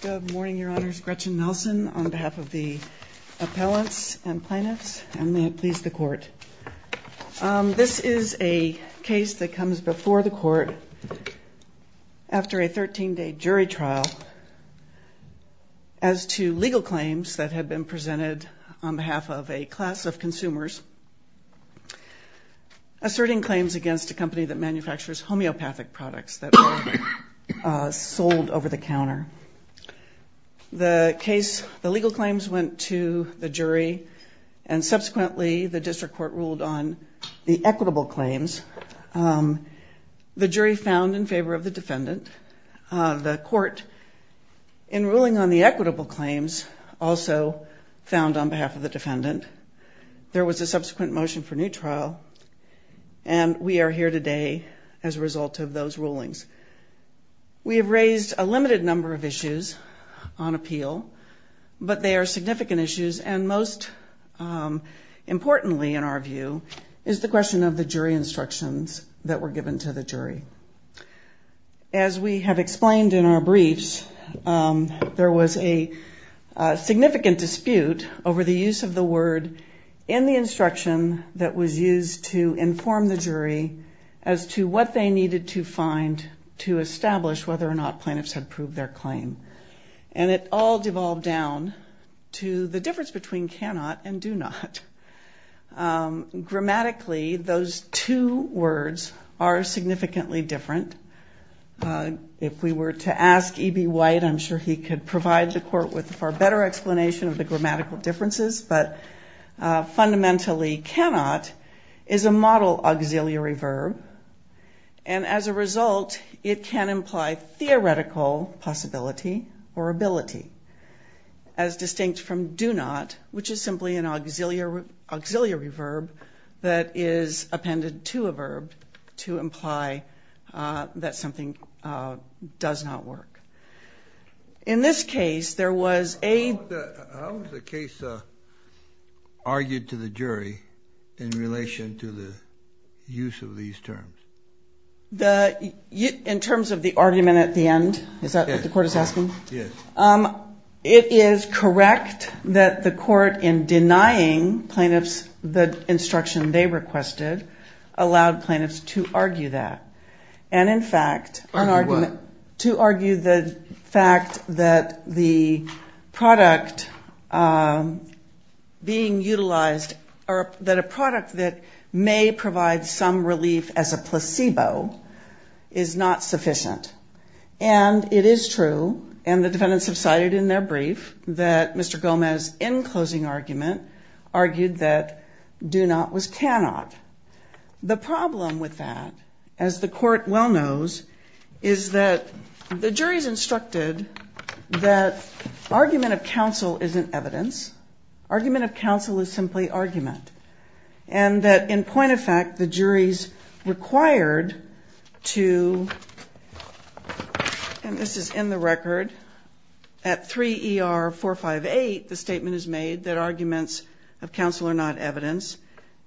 Good morning, Your Honors. Gretchen Nelson on behalf of the appellants and plaintiffs, and may it please the Court. This is a case that comes before the Court after a 13-day jury trial as to legal claims that have been presented on behalf of a class of consumers asserting claims against a company that manufactures homeopathic products that were sold over the counter. The legal claims went to the jury, and subsequently the District Court ruled on the equitable claims. The jury found in favor of the defendant. The Court, in ruling on the equitable claims, also found on behalf of the defendant. There was a subsequent motion for new trial, and we are here today as a result of those rulings. We have raised a limited number of issues on appeal, but they are significant issues, and most importantly, in our view, is the question of the jury instructions that were given to the jury. As we have explained in our briefs, there was a significant dispute over the use of the word in the instruction that was used to inform the jury as to what they needed to find to establish whether or not plaintiffs had proved their claim. And it all devolved down to the difference between cannot and do not. Grammatically, those two words are significantly different. If we were to ask E.B. White, I'm sure he could provide the Court with a far better explanation of the grammatical differences, but fundamentally cannot is a model auxiliary verb, and as a result, it can imply theoretical possibility or ability. As distinct from do not, which is simply an auxiliary verb that is appended to a verb to imply that something does not work. In this case, there was a... How was the case argued to the jury in relation to the use of these terms? In terms of the argument at the end? Is that what the Court is asking? Yes. It is correct that the Court, in denying plaintiffs the instruction they requested, allowed plaintiffs to argue that. And in fact... Argue what? To argue the fact that the product being utilized, or that a product that may provide some relief as a placebo, is not sufficient. And it is true, and the defendants have cited in their brief, that Mr. Gomez, in closing argument, argued that do not was cannot. The problem with that, as the Court well knows, is that the jury is instructed that argument of counsel isn't evidence. Argument of counsel is simply argument. And that, in point of fact, the jury is required to... And this is in the record. At 3 ER 458, the statement is made that arguments of counsel are not evidence.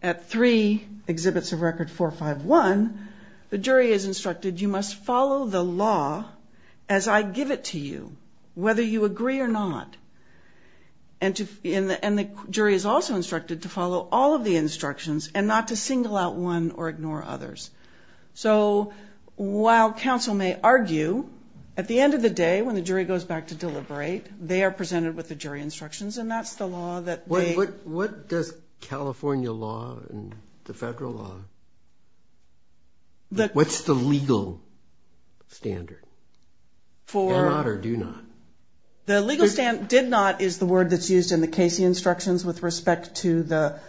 At 3 exhibits of record 451, the jury is instructed, you must follow the law as I give it to you, whether you agree or not. And the jury is also instructed to follow all of the instructions, and not to single out one or ignore others. So, while counsel may argue, at the end of the day, when the jury goes back to deliberate, they are presented with the jury instructions. And that's the law that they... What does California law and the federal law... What's the legal standard? For... Cannot or do not? The legal standard did not is the word that's used in the Casey instructions with respect to the...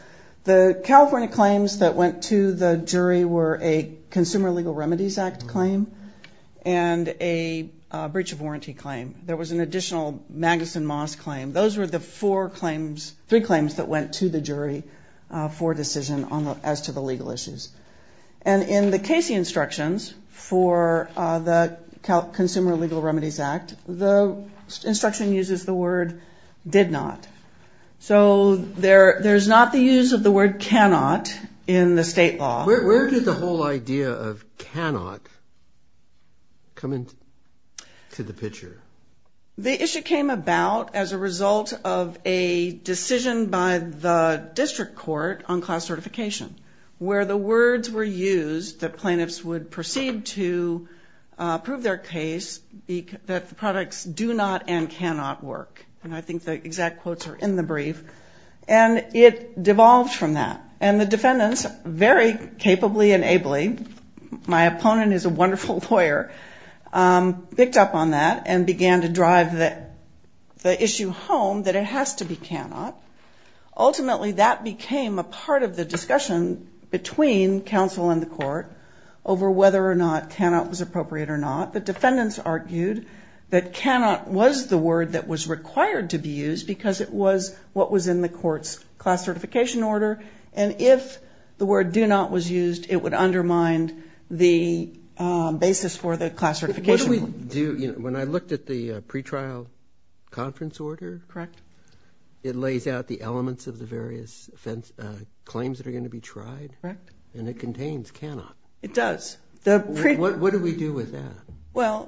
The California claims that went to the jury were a Consumer Legal Remedies Act claim and a breach of warranty claim. There was an additional Magnuson Moss claim. Those were the four claims... Three claims that went to the jury for decision as to the legal issues. And in the Casey instructions for the Consumer Legal Remedies Act, the instruction uses the word did not. So, there's not the use of the word cannot in the state law. Where did the whole idea of cannot come into the picture? The issue came about as a result of a decision by the district court on class certification, where the words were used that plaintiffs would proceed to prove their case that the products do not and cannot work. And I think the exact quotes are in the brief. And it devolved from that. And the defendants, very capably and ably, my opponent is a wonderful lawyer, picked up on that and began to drive the issue home that it has to be cannot. Ultimately, that became a part of the discussion between counsel and the court over whether or not cannot was appropriate or not. The defendants argued that cannot was the word that was required to be used because it was what was in the court's class certification order. And if the word do not was used, it would undermine the basis for the class certification. What do we do when I looked at the pretrial conference order? Correct. It lays out the elements of the various claims that are going to be tried. Correct. And it contains cannot. It does. What do we do with that? Well,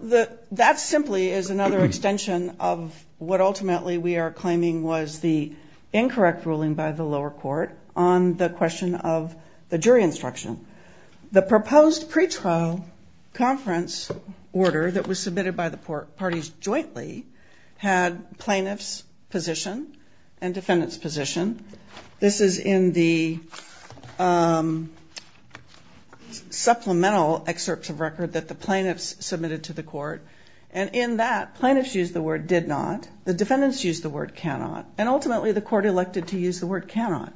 that simply is another extension of what ultimately we are claiming was the incorrect ruling by the lower court on the question of the jury instruction. The proposed pretrial conference order that was submitted by the parties jointly had plaintiffs' position and defendants' position. This is in the supplemental excerpts of record that the plaintiffs submitted to the court. And in that, plaintiffs used the word did not. The defendants used the word cannot. And ultimately, the court elected to use the word cannot.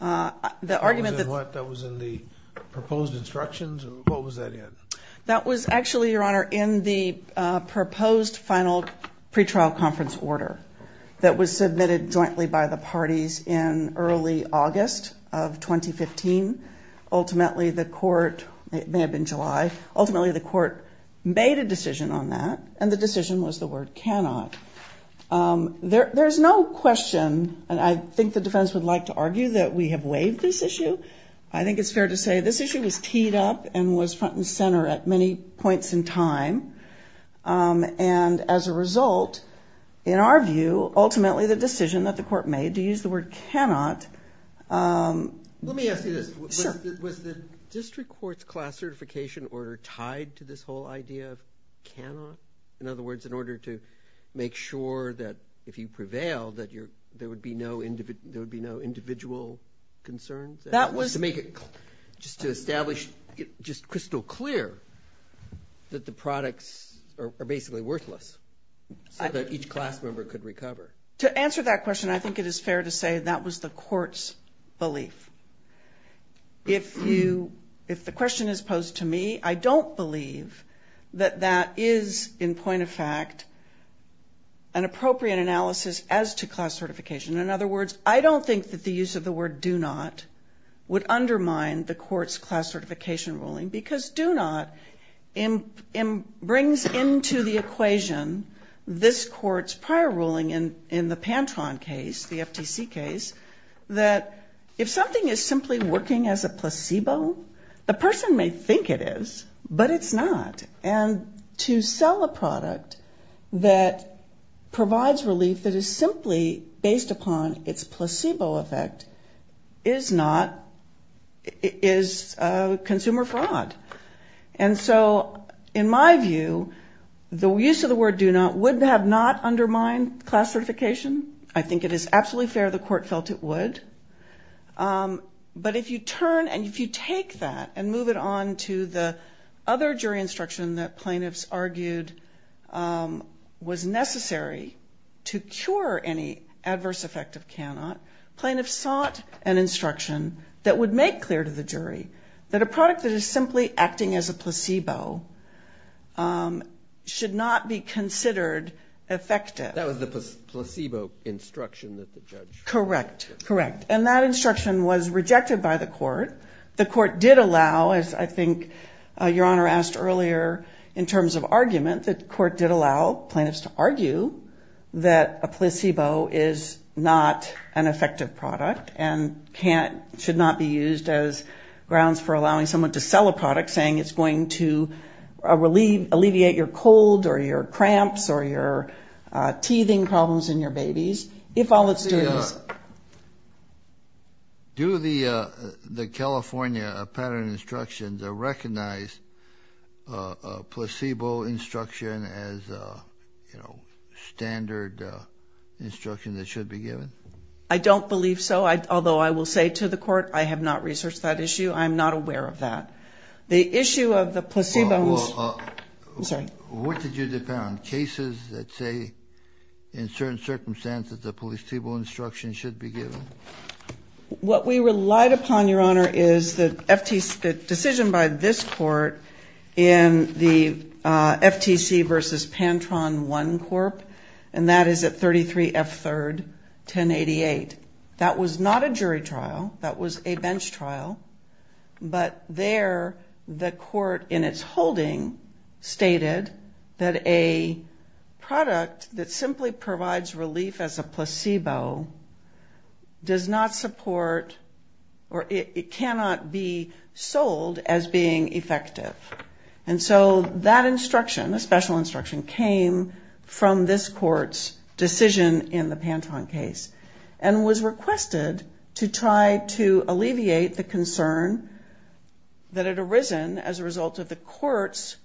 That was in what? That was in the proposed instructions? What was that in? That was actually, Your Honor, in the proposed final pretrial conference order that was submitted jointly by the parties in early August of 2015. Ultimately, the court made a decision on that, and the decision was the word cannot. There is no question, and I think the defendants would like to argue that we have waived this issue. I think it's fair to say this issue was teed up and was front and center at many points in time. And as a result, in our view, ultimately the decision that the court made to use the word cannot. Let me ask you this. Sure. Was the district court's class certification order tied to this whole idea of cannot? In other words, in order to make sure that if you prevail, that there would be no individual concerns? To make it just crystal clear that the products are basically worthless so that each class member could recover. To answer that question, I think it is fair to say that was the court's belief. If the question is posed to me, I don't believe that that is, in point of fact, an appropriate analysis as to class certification. In other words, I don't think that the use of the word do not would undermine the court's class certification ruling. Because do not brings into the equation this court's prior ruling in the Pantron case, the FTC case, that if something is simply working as a placebo, the person may think it is, but it's not. And to sell a product that provides relief that is simply based upon its placebo effect is consumer fraud. And so in my view, the use of the word do not would have not undermined class certification. I think it is absolutely fair the court felt it would. But if you turn and if you take that and move it on to the other jury instruction that plaintiffs argued was necessary to cure any adverse effect of cannot, plaintiffs sought an instruction that would make clear to the jury that a product that is simply acting as a placebo should not be considered effective. That was the placebo instruction that the judge. Correct. Correct. And that instruction was rejected by the court. The court did allow, as I think your honor asked earlier in terms of argument, the court did allow plaintiffs to argue that a placebo is not an effective product and can't, should not be used as grounds for allowing someone to sell a product saying it's going to relieve, alleviate your cold or your cramps or your teething problems in your babies. If all it's doing is. Do the the California pattern instruction to recognize placebo instruction as standard instruction that should be given. I don't believe so. Although I will say to the court, I have not researched that issue. I'm not aware of that. The issue of the placebo. What did you depend on cases that say in certain circumstances, the placebo instruction should be given. What we relied upon, your honor, is the decision by this court in the FTC versus Pantone one corp. And that is at thirty three F third ten eighty eight. That was not a jury trial. That was a bench trial. But there the court in its holding stated that a product that simply provides relief as a placebo. Does not support or it cannot be sold as being effective. And so that instruction, a special instruction came from this court's decision in the Pantone case and was requested to try to alleviate the concern. That had arisen as a result of the court's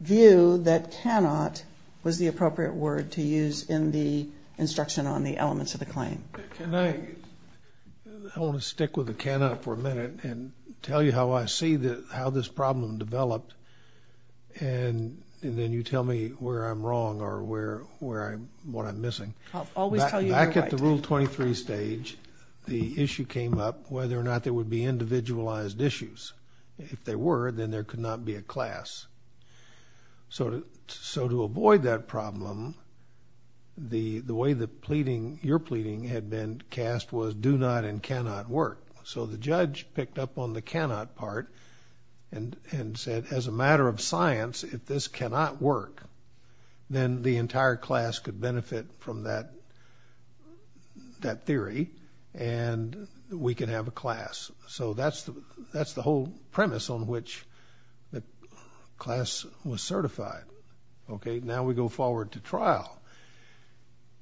view that cannot was the appropriate word to use in the instruction on the elements of the claim. And I want to stick with the Canada for a minute and tell you how I see how this problem developed. And then you tell me where I'm wrong or where where I'm what I'm missing. I'll always tell you back at the rule twenty three stage. The issue came up whether or not there would be individualized issues. If they were, then there could not be a class. Sort of. So to avoid that problem, the the way the pleading your pleading had been cast was do not and cannot work. So the judge picked up on the cannot part and and said, as a matter of science, if this cannot work, then the entire class could benefit from that that theory and we can have a class. So that's the that's the whole premise on which the class was certified. OK, now we go forward to trial.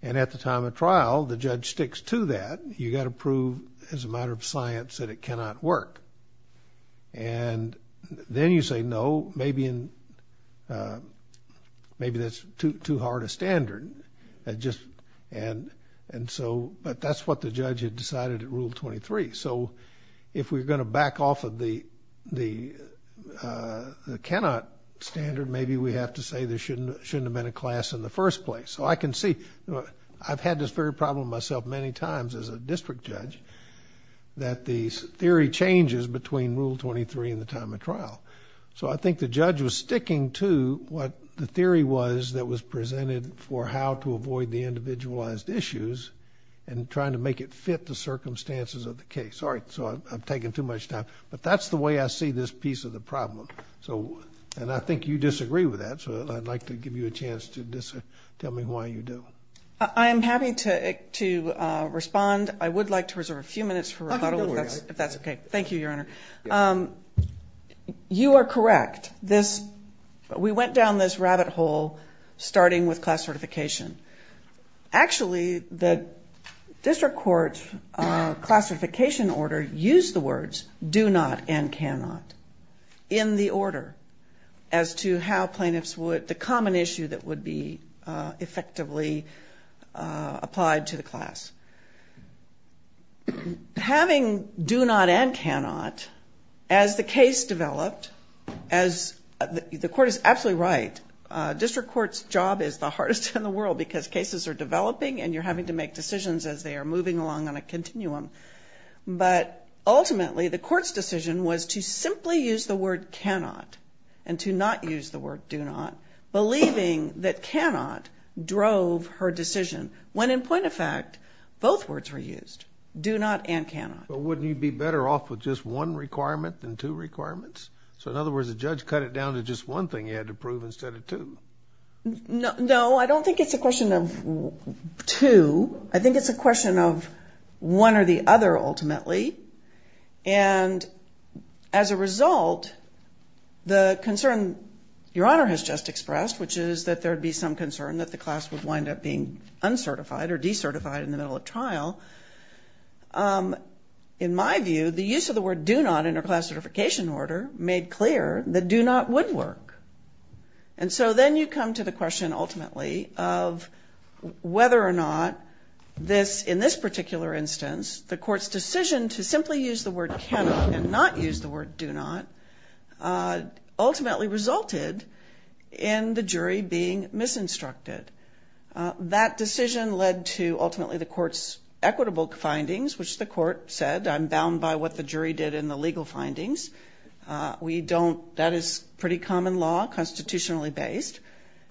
And at the time of trial, the judge sticks to that. You got to prove as a matter of science that it cannot work. And then you say, no, maybe and maybe that's too hard a standard. And and so but that's what the judge had decided at rule twenty three. So if we're going to back off of the the cannot standard, maybe we have to say there shouldn't shouldn't have been a class in the first place. So I can see I've had this very problem myself many times as a district judge, that the theory changes between rule twenty three and the time of trial. So I think the judge was sticking to what the theory was that was presented for how to avoid the individualized issues and trying to make it fit the circumstances of the case. All right. So I've taken too much time, but that's the way I see this piece of the problem. So and I think you disagree with that. So I'd like to give you a chance to tell me why you do. I am happy to to respond. I would like to reserve a few minutes for if that's OK. Thank you, Your Honor. You are correct. This we went down this rabbit hole starting with class certification. Actually, the district court's classification order used the words do not and cannot in the order as to how plaintiffs would the common issue that would be effectively applied to the class. Having do not and cannot, as the case developed, as the court is absolutely right, district court's job is the hardest in the world because cases are developing and you're having to make decisions as they are moving along on a continuum. But ultimately, the court's decision was to simply use the word cannot and to not use the word do not, believing that cannot drove her decision when, in point of fact, both words were used, do not and cannot. But wouldn't you be better off with just one requirement than two requirements? So in other words, the judge cut it down to just one thing he had to prove instead of two. No, I don't think it's a question of two. I think it's a question of one or the other, ultimately. And as a result, the concern Your Honor has just expressed, which is that there would be some concern that the class would wind up being uncertified or decertified in the middle of trial. In my view, the use of the word do not in a class certification order made clear that do not would work. And so then you come to the question ultimately of whether or not this, in this particular instance, the court's decision to simply use the word cannot and not use the word do not ultimately resulted in the jury being misinstructed. That decision led to ultimately the court's equitable findings, which the court said, I'm bound by what the jury did in the legal findings. We don't. That is pretty common law, constitutionally based,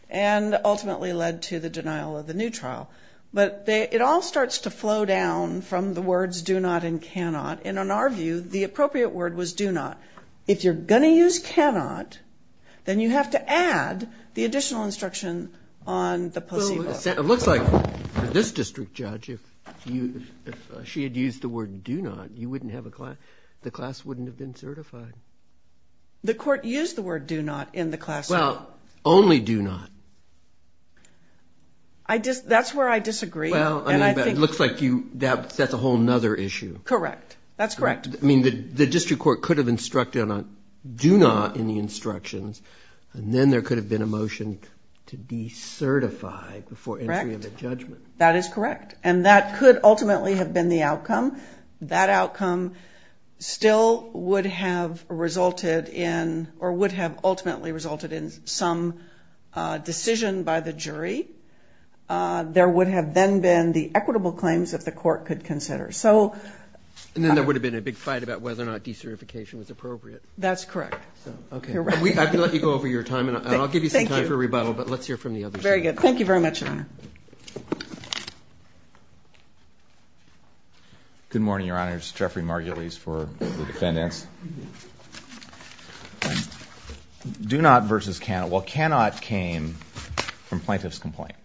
and ultimately led to the denial of the new trial. But it all starts to flow down from the words do not and cannot. And in our view, the appropriate word was do not. If you're going to use cannot, then you have to add the additional instruction on the placebo. It looks like this district judge, if she had used the word do not, you wouldn't have a class, the class wouldn't have been certified. The court used the word do not in the class. Well, only do not. That's where I disagree. It looks like that's a whole other issue. Correct. That's correct. I mean, the district court could have instructed on do not in the instructions, and then there could have been a motion to decertify before entry of a judgment. That is correct. And that could ultimately have been the outcome. That outcome still would have resulted in or would have ultimately resulted in some decision by the jury. There would have then been the equitable claims that the court could consider. And then there would have been a big fight about whether or not decertification was appropriate. That's correct. I can let you go over your time, and I'll give you some time for rebuttal, but let's hear from the others. Very good. Thank you very much, Your Honor. Good morning, Your Honor. This is Jeffrey Margulies for the defendants. Do not versus cannot. Well, cannot came from plaintiff's complaint.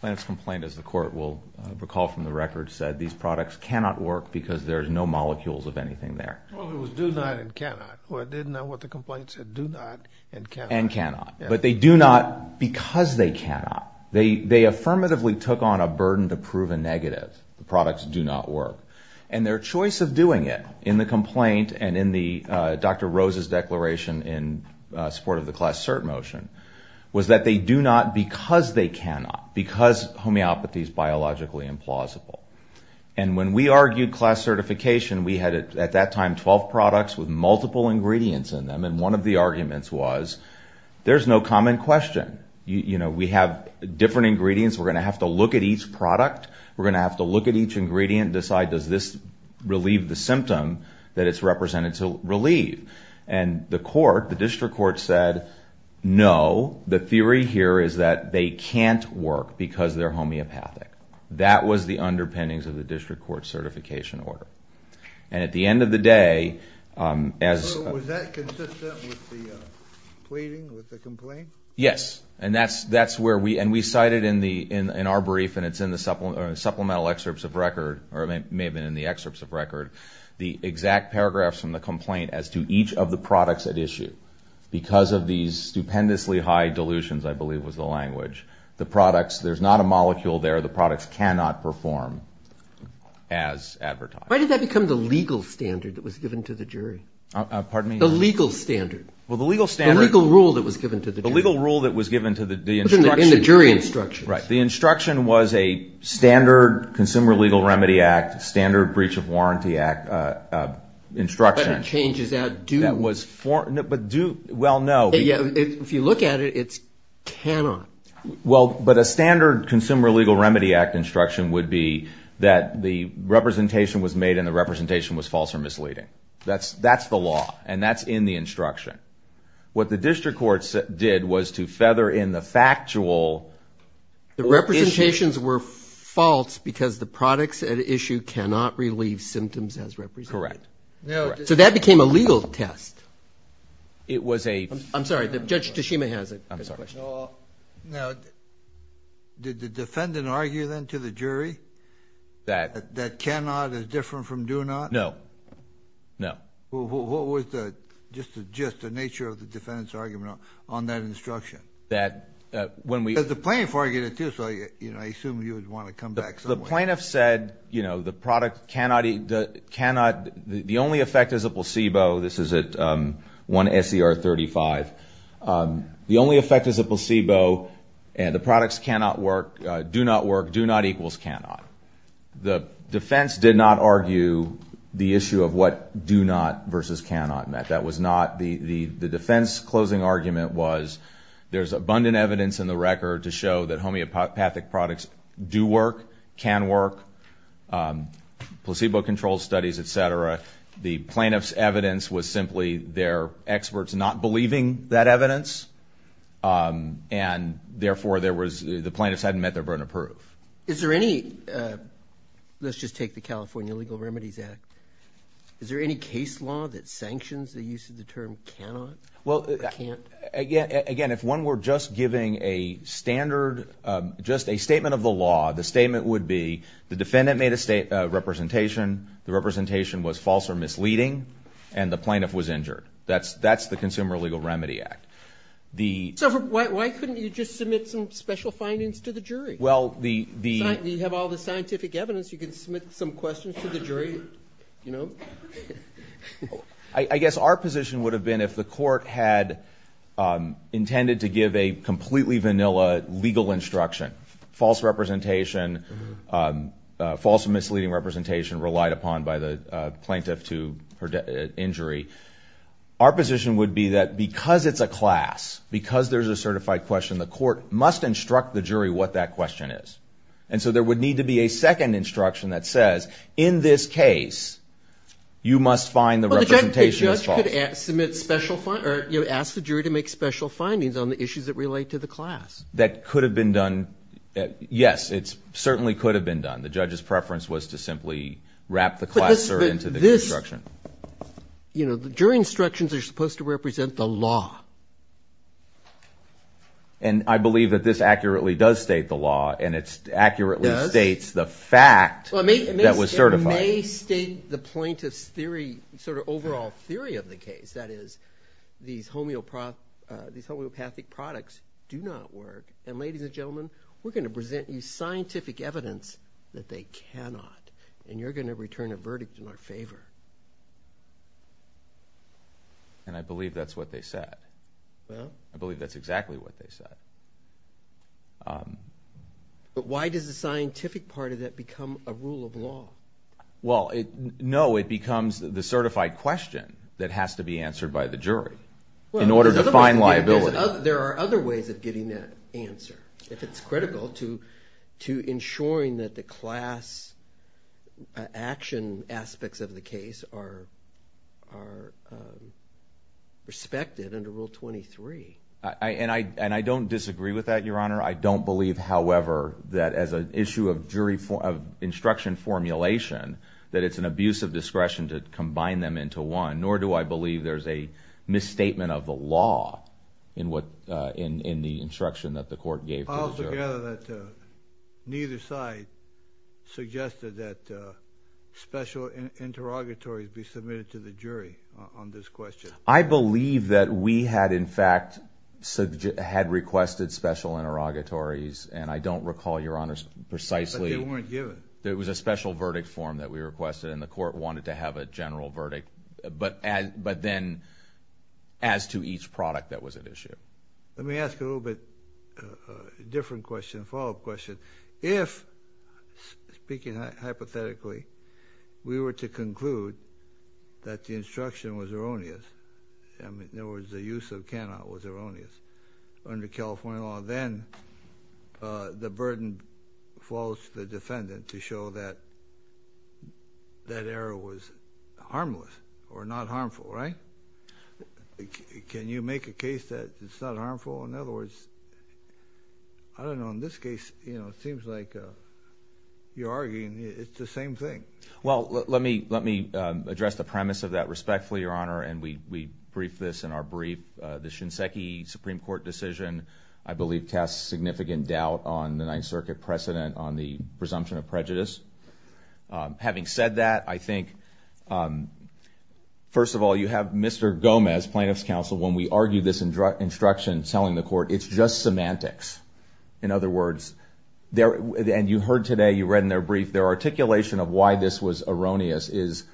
Plaintiff's complaint, as the court will recall from the record, said these products cannot work because there's no molecules of anything there. Well, it was do not and cannot. Well, I didn't know what the complaint said. Do not and cannot. And cannot. But they do not because they cannot. They affirmatively took on a burden to prove a negative. The products do not work. And their choice of doing it in the complaint and in Dr. Rose's declaration in support of the class cert motion was that they do not because they cannot, because homeopathy is biologically implausible. And when we argued class certification, we had at that time 12 products with multiple ingredients in them, and one of the arguments was there's no common question. You know, we have different ingredients. We're going to have to look at each product. We're going to have to look at each ingredient and decide does this relieve the symptom that it's represented to relieve. And the court, the district court, said no. The theory here is that they can't work because they're homeopathic. That was the underpinnings of the district court certification order. And at the end of the day, as... So was that consistent with the pleading, with the complaint? Yes, and that's where we... And we cited in our brief, and it's in the supplemental excerpts of record, or it may have been in the excerpts of record, the exact paragraphs from the complaint as to each of the products at issue. Because of these stupendously high dilutions, I believe was the language, the products... There's not a molecule there. cannot perform as advertised. Why did that become the legal standard that was given to the jury? Pardon me? The legal standard. Well, the legal standard. The legal rule that was given to the jury. The legal rule that was given to the instruction. In the jury instructions. Right. The instruction was a standard Consumer Legal Remedy Act, standard Breach of Warranty Act instruction. But it changes out due. That was... But due... Well, no. If you look at it, it's cannot. Well, but a standard Consumer Legal Remedy Act instruction would be that the representation was made and the representation was false or misleading. That's the law, and that's in the instruction. What the district courts did was to feather in the factual... The representations were false because the products at issue cannot relieve symptoms as represented. Correct. So that became a legal test. It was a... I'm sorry. Judge Tashima has a question. No. Now, did the defendant argue then to the jury that cannot is different from do not? No. No. What was just the nature of the defendant's argument on that instruction? That when we... Because the plaintiff argued it, too, so I assume you would want to come back some way. The plaintiff said, you know, the product cannot... The only effect is a placebo. This is at 1 S.E.R. 35. The only effect is a placebo, and the products cannot work, do not work, do not equals cannot. The defense did not argue the issue of what do not versus cannot meant. That was not... The defense's closing argument was there's abundant evidence in the record to show that homeopathic products do work, can work, placebo-controlled studies, et cetera. The plaintiff's evidence was simply their experts not believing that evidence, and therefore the plaintiffs hadn't met their burden of proof. Is there any... Let's just take the California Legal Remedies Act. Is there any case law that sanctions the use of the term cannot or can't? Again, if one were just giving a standard, just a statement of the law, the statement would be the defendant made a representation. The representation was false or misleading, and the plaintiff was injured. That's the Consumer Legal Remedy Act. So why couldn't you just submit some special findings to the jury? Well, the... You have all the scientific evidence. You can submit some questions to the jury, you know. I guess our position would have been if the court had intended to give a completely vanilla legal instruction, false representation, false or misleading representation relied upon by the plaintiff to injury, our position would be that because it's a class, because there's a certified question, the court must instruct the jury what that question is. And so there would need to be a second instruction that says, in this case, you must find the representation is false. Well, the judge could submit special findings or ask the jury to make special findings on the issues that relate to the class. That could have been done. Yes, it certainly could have been done. The judge's preference was to simply wrap the class cert into the instruction. You know, the jury instructions are supposed to represent the law. And I believe that this accurately does state the law, and it accurately states the fact that was certified. It may state the plaintiff's theory, sort of overall theory of the case. That is, these homeopathic products do not work. And, ladies and gentlemen, we're going to present you scientific evidence that they cannot, and you're going to return a verdict in our favor. And I believe that's what they said. Well? I believe that's exactly what they said. Well, no, it becomes the certified question that has to be answered by the jury in order to find liability. There are other ways of getting that answer, if it's critical, to ensuring that the class action aspects of the case are respected under Rule 23. And I don't disagree with that, Your Honor. I don't believe, however, that as an issue of instruction formulation, that it's an abuse of discretion to combine them into one, nor do I believe there's a misstatement of the law in the instruction that the court gave to the jury. I also gather that neither side suggested that special interrogatories be submitted to the jury on this question. I believe that we had, in fact, requested special interrogatories, and I don't recall, Your Honor, precisely. But they weren't given. It was a special verdict form that we requested, and the court wanted to have a general verdict, but then as to each product that was at issue. Let me ask you a little bit of a different question, a follow-up question. If, speaking hypothetically, we were to conclude that the instruction was erroneous, in other words, the use of cannot was erroneous under California law, then the burden falls to the defendant to show that that error was harmless or not harmful, right? Can you make a case that it's not harmful? In other words, I don't know, in this case, it seems like you're arguing it's the same thing. Well, let me address the premise of that respectfully, Your Honor, and we briefed this in our brief. The Shinseki Supreme Court decision, I believe, casts significant doubt on the Ninth Circuit precedent on the presumption of prejudice. Having said that, I think, first of all, you have Mr. Gomez, plaintiff's counsel, when we argue this instruction, telling the court it's just semantics. In other words, and you heard today, you read in their brief, their articulation of why this was erroneous is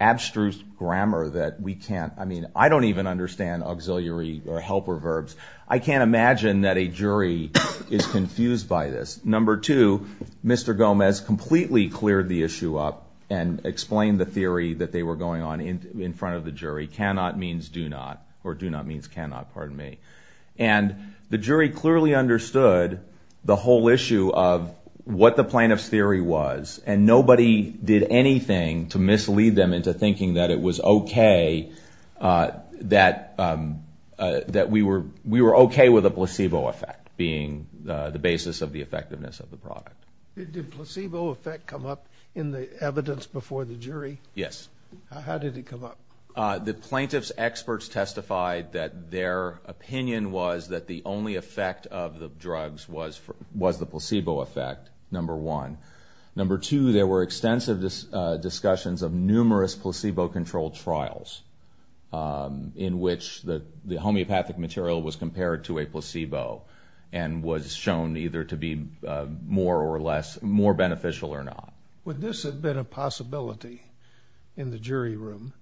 abstruse grammar that we can't, I mean, I don't even understand auxiliary or helper verbs. I can't imagine that a jury is confused by this. Number two, Mr. Gomez completely cleared the issue up and explained the theory that they were going on in front of the jury. The jury cannot means do not, or do not means cannot, pardon me. And the jury clearly understood the whole issue of what the plaintiff's theory was, and nobody did anything to mislead them into thinking that it was okay, that we were okay with a placebo effect being the basis of the effectiveness of the product. Did placebo effect come up in the evidence before the jury? Yes. How did it come up? The plaintiff's experts testified that their opinion was that the only effect of the drugs was the placebo effect, number one. Number two, there were extensive discussions of numerous placebo-controlled trials in which the homeopathic material was compared to a placebo and was shown either to be more or less, more beneficial or not. Would this have been a possibility in the jury room,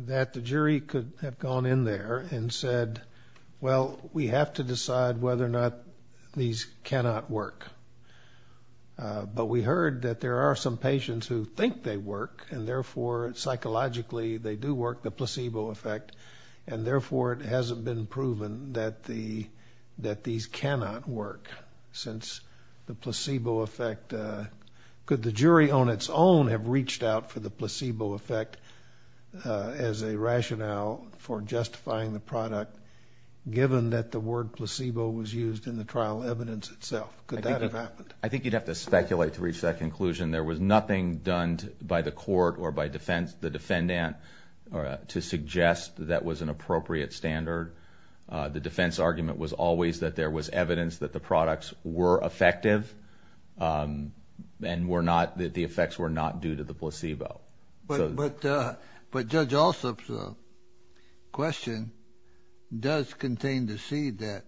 that the jury could have gone in there and said, well, we have to decide whether or not these cannot work. But we heard that there are some patients who think they work, and therefore psychologically they do work, the placebo effect, and therefore it hasn't been proven that these cannot work, since the placebo effect. Could the jury on its own have reached out for the placebo effect as a rationale for justifying the product, given that the word placebo was used in the trial evidence itself? Could that have happened? I think you'd have to speculate to reach that conclusion. There was nothing done by the court or by the defendant to suggest that was an appropriate standard. The defense argument was always that there was evidence that the products were effective and that the effects were not due to the placebo. But Judge Alsop's question does contain the seed that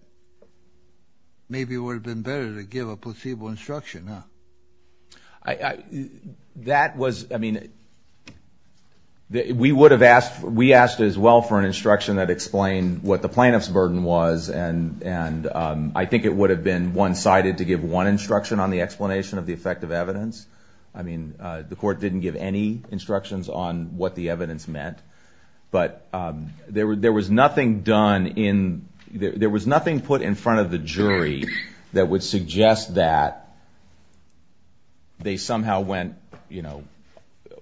maybe it would have been better to give a placebo instruction, huh? That was, I mean, we would have asked, we asked as well for an instruction that explained what the plaintiff's burden was, and I think it would have been one-sided to give one instruction on the explanation of the effect of evidence. I mean, the court didn't give any instructions on what the evidence meant. But there was nothing done in, there was nothing put in front of the jury that would suggest that they somehow went, you know,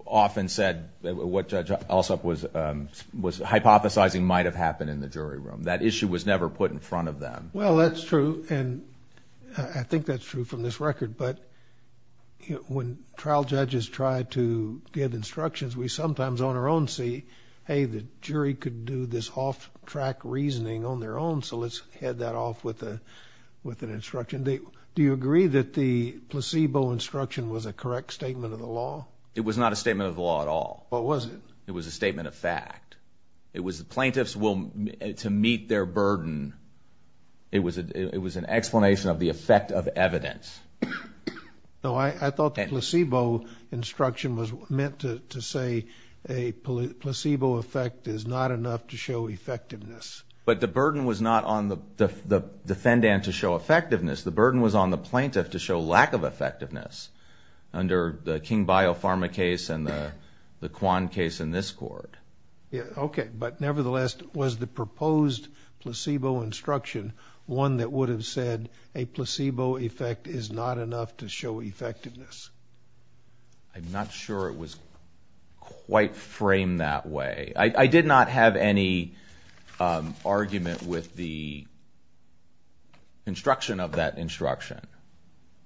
often said what Judge Alsop was hypothesizing might have happened in the jury room. That issue was never put in front of them. Well, that's true, and I think that's true from this record. But when trial judges try to give instructions, we sometimes on our own see, hey, the jury could do this off-track reasoning on their own, so let's head that off with an instruction. Do you agree that the placebo instruction was a correct statement of the law? It was not a statement of the law at all. What was it? It was a statement of fact. It was the plaintiff's will to meet their burden. It was an explanation of the effect of evidence. No, I thought the placebo instruction was meant to say a placebo effect is not enough to show effectiveness. But the burden was not on the defendant to show effectiveness. The burden was on the plaintiff to show lack of effectiveness under the King-Bio Pharma case and the Kwan case in this court. Okay, but nevertheless, was the proposed placebo instruction one that would have said a placebo effect is not enough to show effectiveness? I'm not sure it was quite framed that way. I did not have any argument with the instruction of that instruction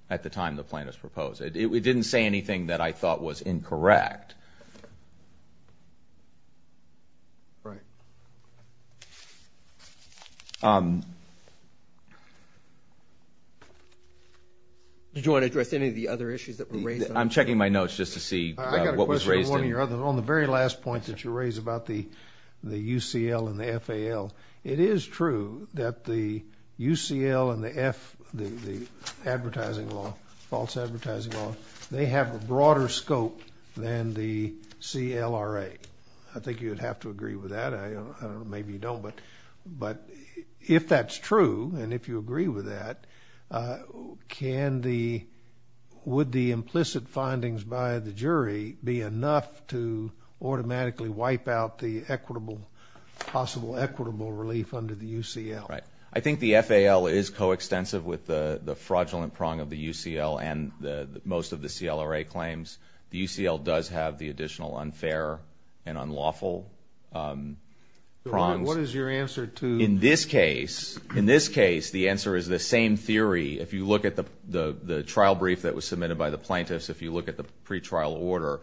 at the time the plaintiff's proposed it. It didn't say anything that I thought was incorrect. Right. Did you want to address any of the other issues that were raised? I'm checking my notes just to see what was raised. On the very last point that you raised about the UCL and the FAL, it is true that the UCL and the F, the advertising law, false advertising law, they have a broader scope than the CLRA. I think you would have to agree with that. Maybe you don't, but if that's true and if you agree with that, would the implicit findings by the jury be enough to automatically wipe out the possible equitable relief under the UCL? Right. I think the FAL is coextensive with the fraudulent prong of the UCL and most of the CLRA claims. The UCL does have the additional unfair and unlawful prongs. What is your answer to? In this case, the answer is the same theory. If you look at the trial brief that was submitted by the plaintiffs, if you look at the pretrial order,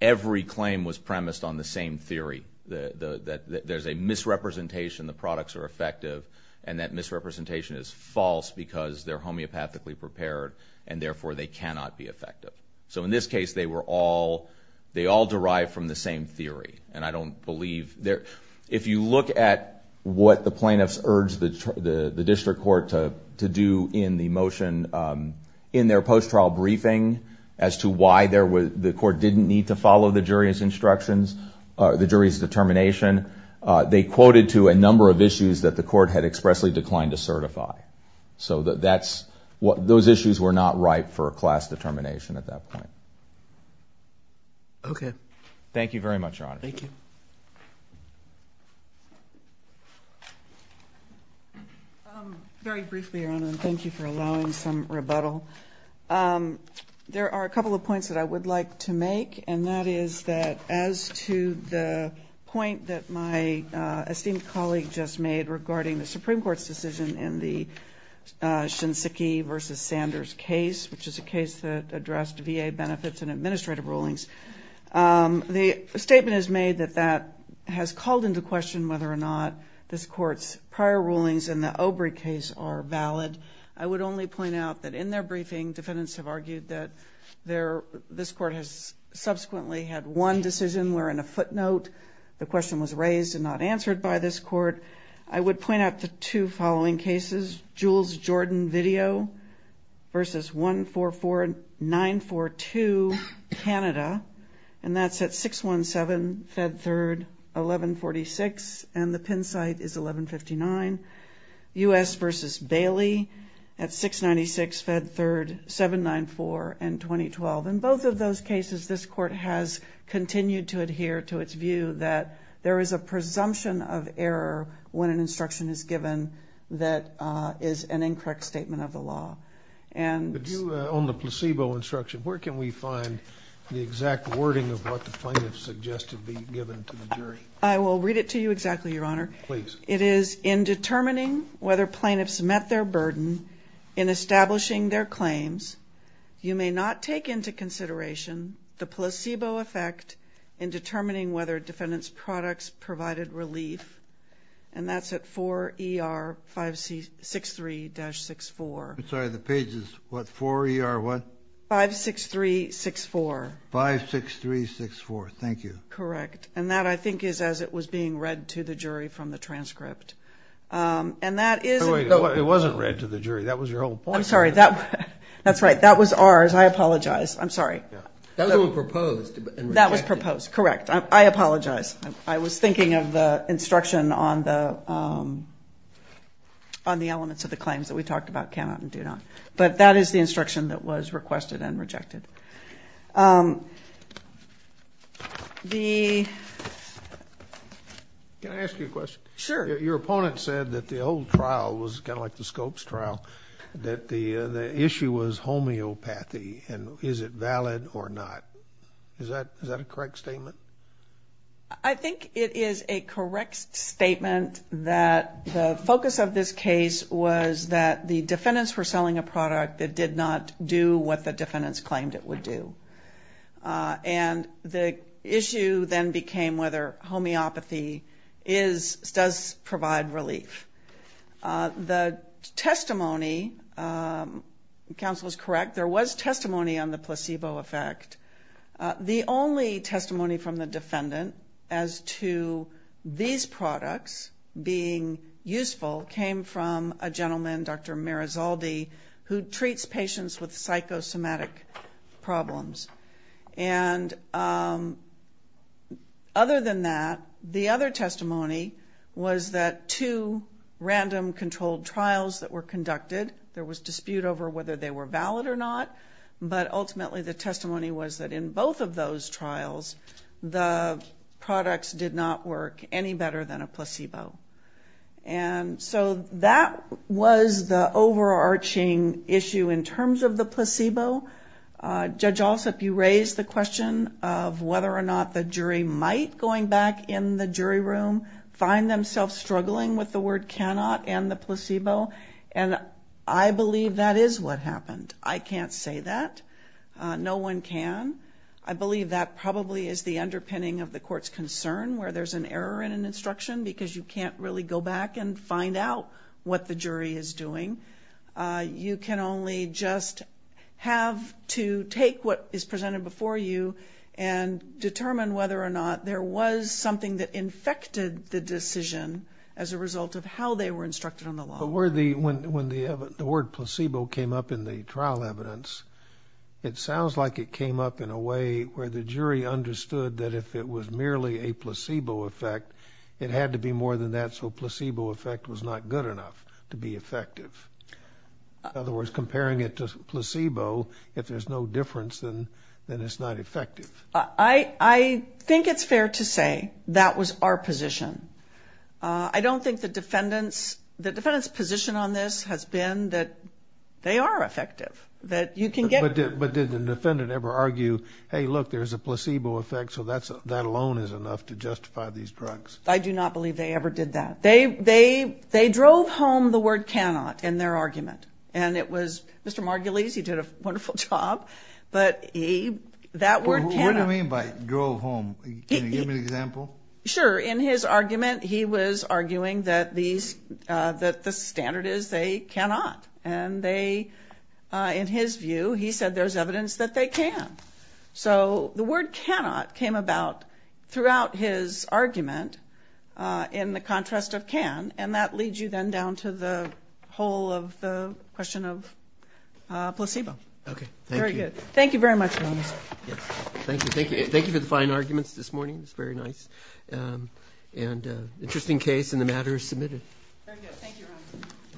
every claim was premised on the same theory, that there's a misrepresentation, the products are effective, and that misrepresentation is false because they're homeopathically prepared and therefore they cannot be effective. In this case, they all derive from the same theory. If you look at what the plaintiffs urged the district court to do in the motion in their post-trial briefing as to why the court didn't need to follow the jury's instructions, the jury's determination, they quoted to a number of issues that the court had expressly declined to certify. Those issues were not ripe for a class determination at that point. Okay. Thank you very much, Your Honor. Thank you. Very briefly, Your Honor, and thank you for allowing some rebuttal. There are a couple of points that I would like to make, and that is that as to the point that my esteemed colleague just made regarding the Supreme Court's decision in the Shinseki v. Sanders case, which is a case that addressed VA benefits and administrative rulings, the statement is made that that has called into question whether or not this Court's prior rulings in the Obrey case are valid. I would only point out that in their briefing, defendants have argued that this Court has subsequently had one decision where in a footnote the question was raised and not answered by this Court. I would point out the two following cases, Jules Jordan Video v. 144942, Canada, and that's at 617 Fed 3rd, 1146, and the pin site is 1159. U.S. v. Bailey at 696 Fed 3rd, 794, and 2012. In both of those cases, this Court has continued to adhere to its view that there is a presumption of error when an instruction is given that is an incorrect statement of the law. On the placebo instruction, where can we find the exact wording of what the plaintiff suggested be given to the jury? I will read it to you exactly, Your Honor. Please. It is in determining whether plaintiffs met their burden in establishing their claims, you may not take into consideration the placebo effect in determining whether defendants' products provided relief, and that's at 4ER5C63-64. I'm sorry. The page is what? 4ER what? 56364. 56364. Thank you. Correct. And that, I think, is as it was being read to the jury from the transcript. And that is... It wasn't read to the jury. That was your whole point. I'm sorry. That's right. That was ours. I apologize. I'm sorry. That was proposed. That was proposed. Correct. I apologize. I was thinking of the instruction on the elements of the claims that we talked about, cannot and do not. But that is the instruction that was requested and rejected. The... Can I ask you a question? Sure. Your opponent said that the old trial was kind of like the Scopes trial, that the issue was homeopathy and is it valid or not. Is that a correct statement? I think it is a correct statement that the focus of this case was that the defendants were selling a product that did not do what the defendants claimed it would do. And the issue then became whether homeopathy does provide relief. The testimony, counsel is correct, there was testimony on the placebo effect. The only testimony from the defendant as to these products being useful came from a gentleman, Dr. Merizaldi, who treats patients with psychosomatic problems. And other than that, the other testimony was that two random controlled trials that were conducted, there was dispute over whether they were valid or not, but ultimately the testimony was that in both of those trials, the products did not work any better than a placebo. And so that was the overarching issue in terms of the placebo. Judge Alsup, you raised the question of whether or not the jury might, going back in the jury room, find themselves struggling with the word cannot and the placebo. And I believe that is what happened. I can't say that. No one can. I believe that probably is the underpinning of the court's concern where there's an error in an instruction because you can't really go back and find out what the jury is doing. You can only just have to take what is presented before you and determine whether or not there was something that infected the decision as a result of how they were instructed on the law. When the word placebo came up in the trial evidence, it sounds like it came up in a way where the jury understood that if it was merely a placebo effect, it had to be more than that, so placebo effect was not good enough to be effective. In other words, comparing it to placebo, if there's no difference, then it's not effective. I think it's fair to say that was our position. I don't think the defendant's position on this has been that they are effective, that you can get... But did the defendant ever argue, hey, look, there's a placebo effect, so that alone is enough to justify these drugs? I do not believe they ever did that. They drove home the word cannot in their argument, and it was Mr. Margulies, he did a wonderful job, but that word cannot... What do you mean by drove home? Can you give me an example? Sure. In his argument, he was arguing that these, that the standard is they cannot, and they, in his view, he said there's evidence that they can. So the word cannot came about throughout his argument in the contrast of can, and that leads you then down to the whole of the question of placebo. Okay. Thank you. Very good. Thank you very much, Ron. Thank you. Thank you for the fine arguments this morning. It was very nice. And interesting case, and the matter is submitted. Thank you, Ron.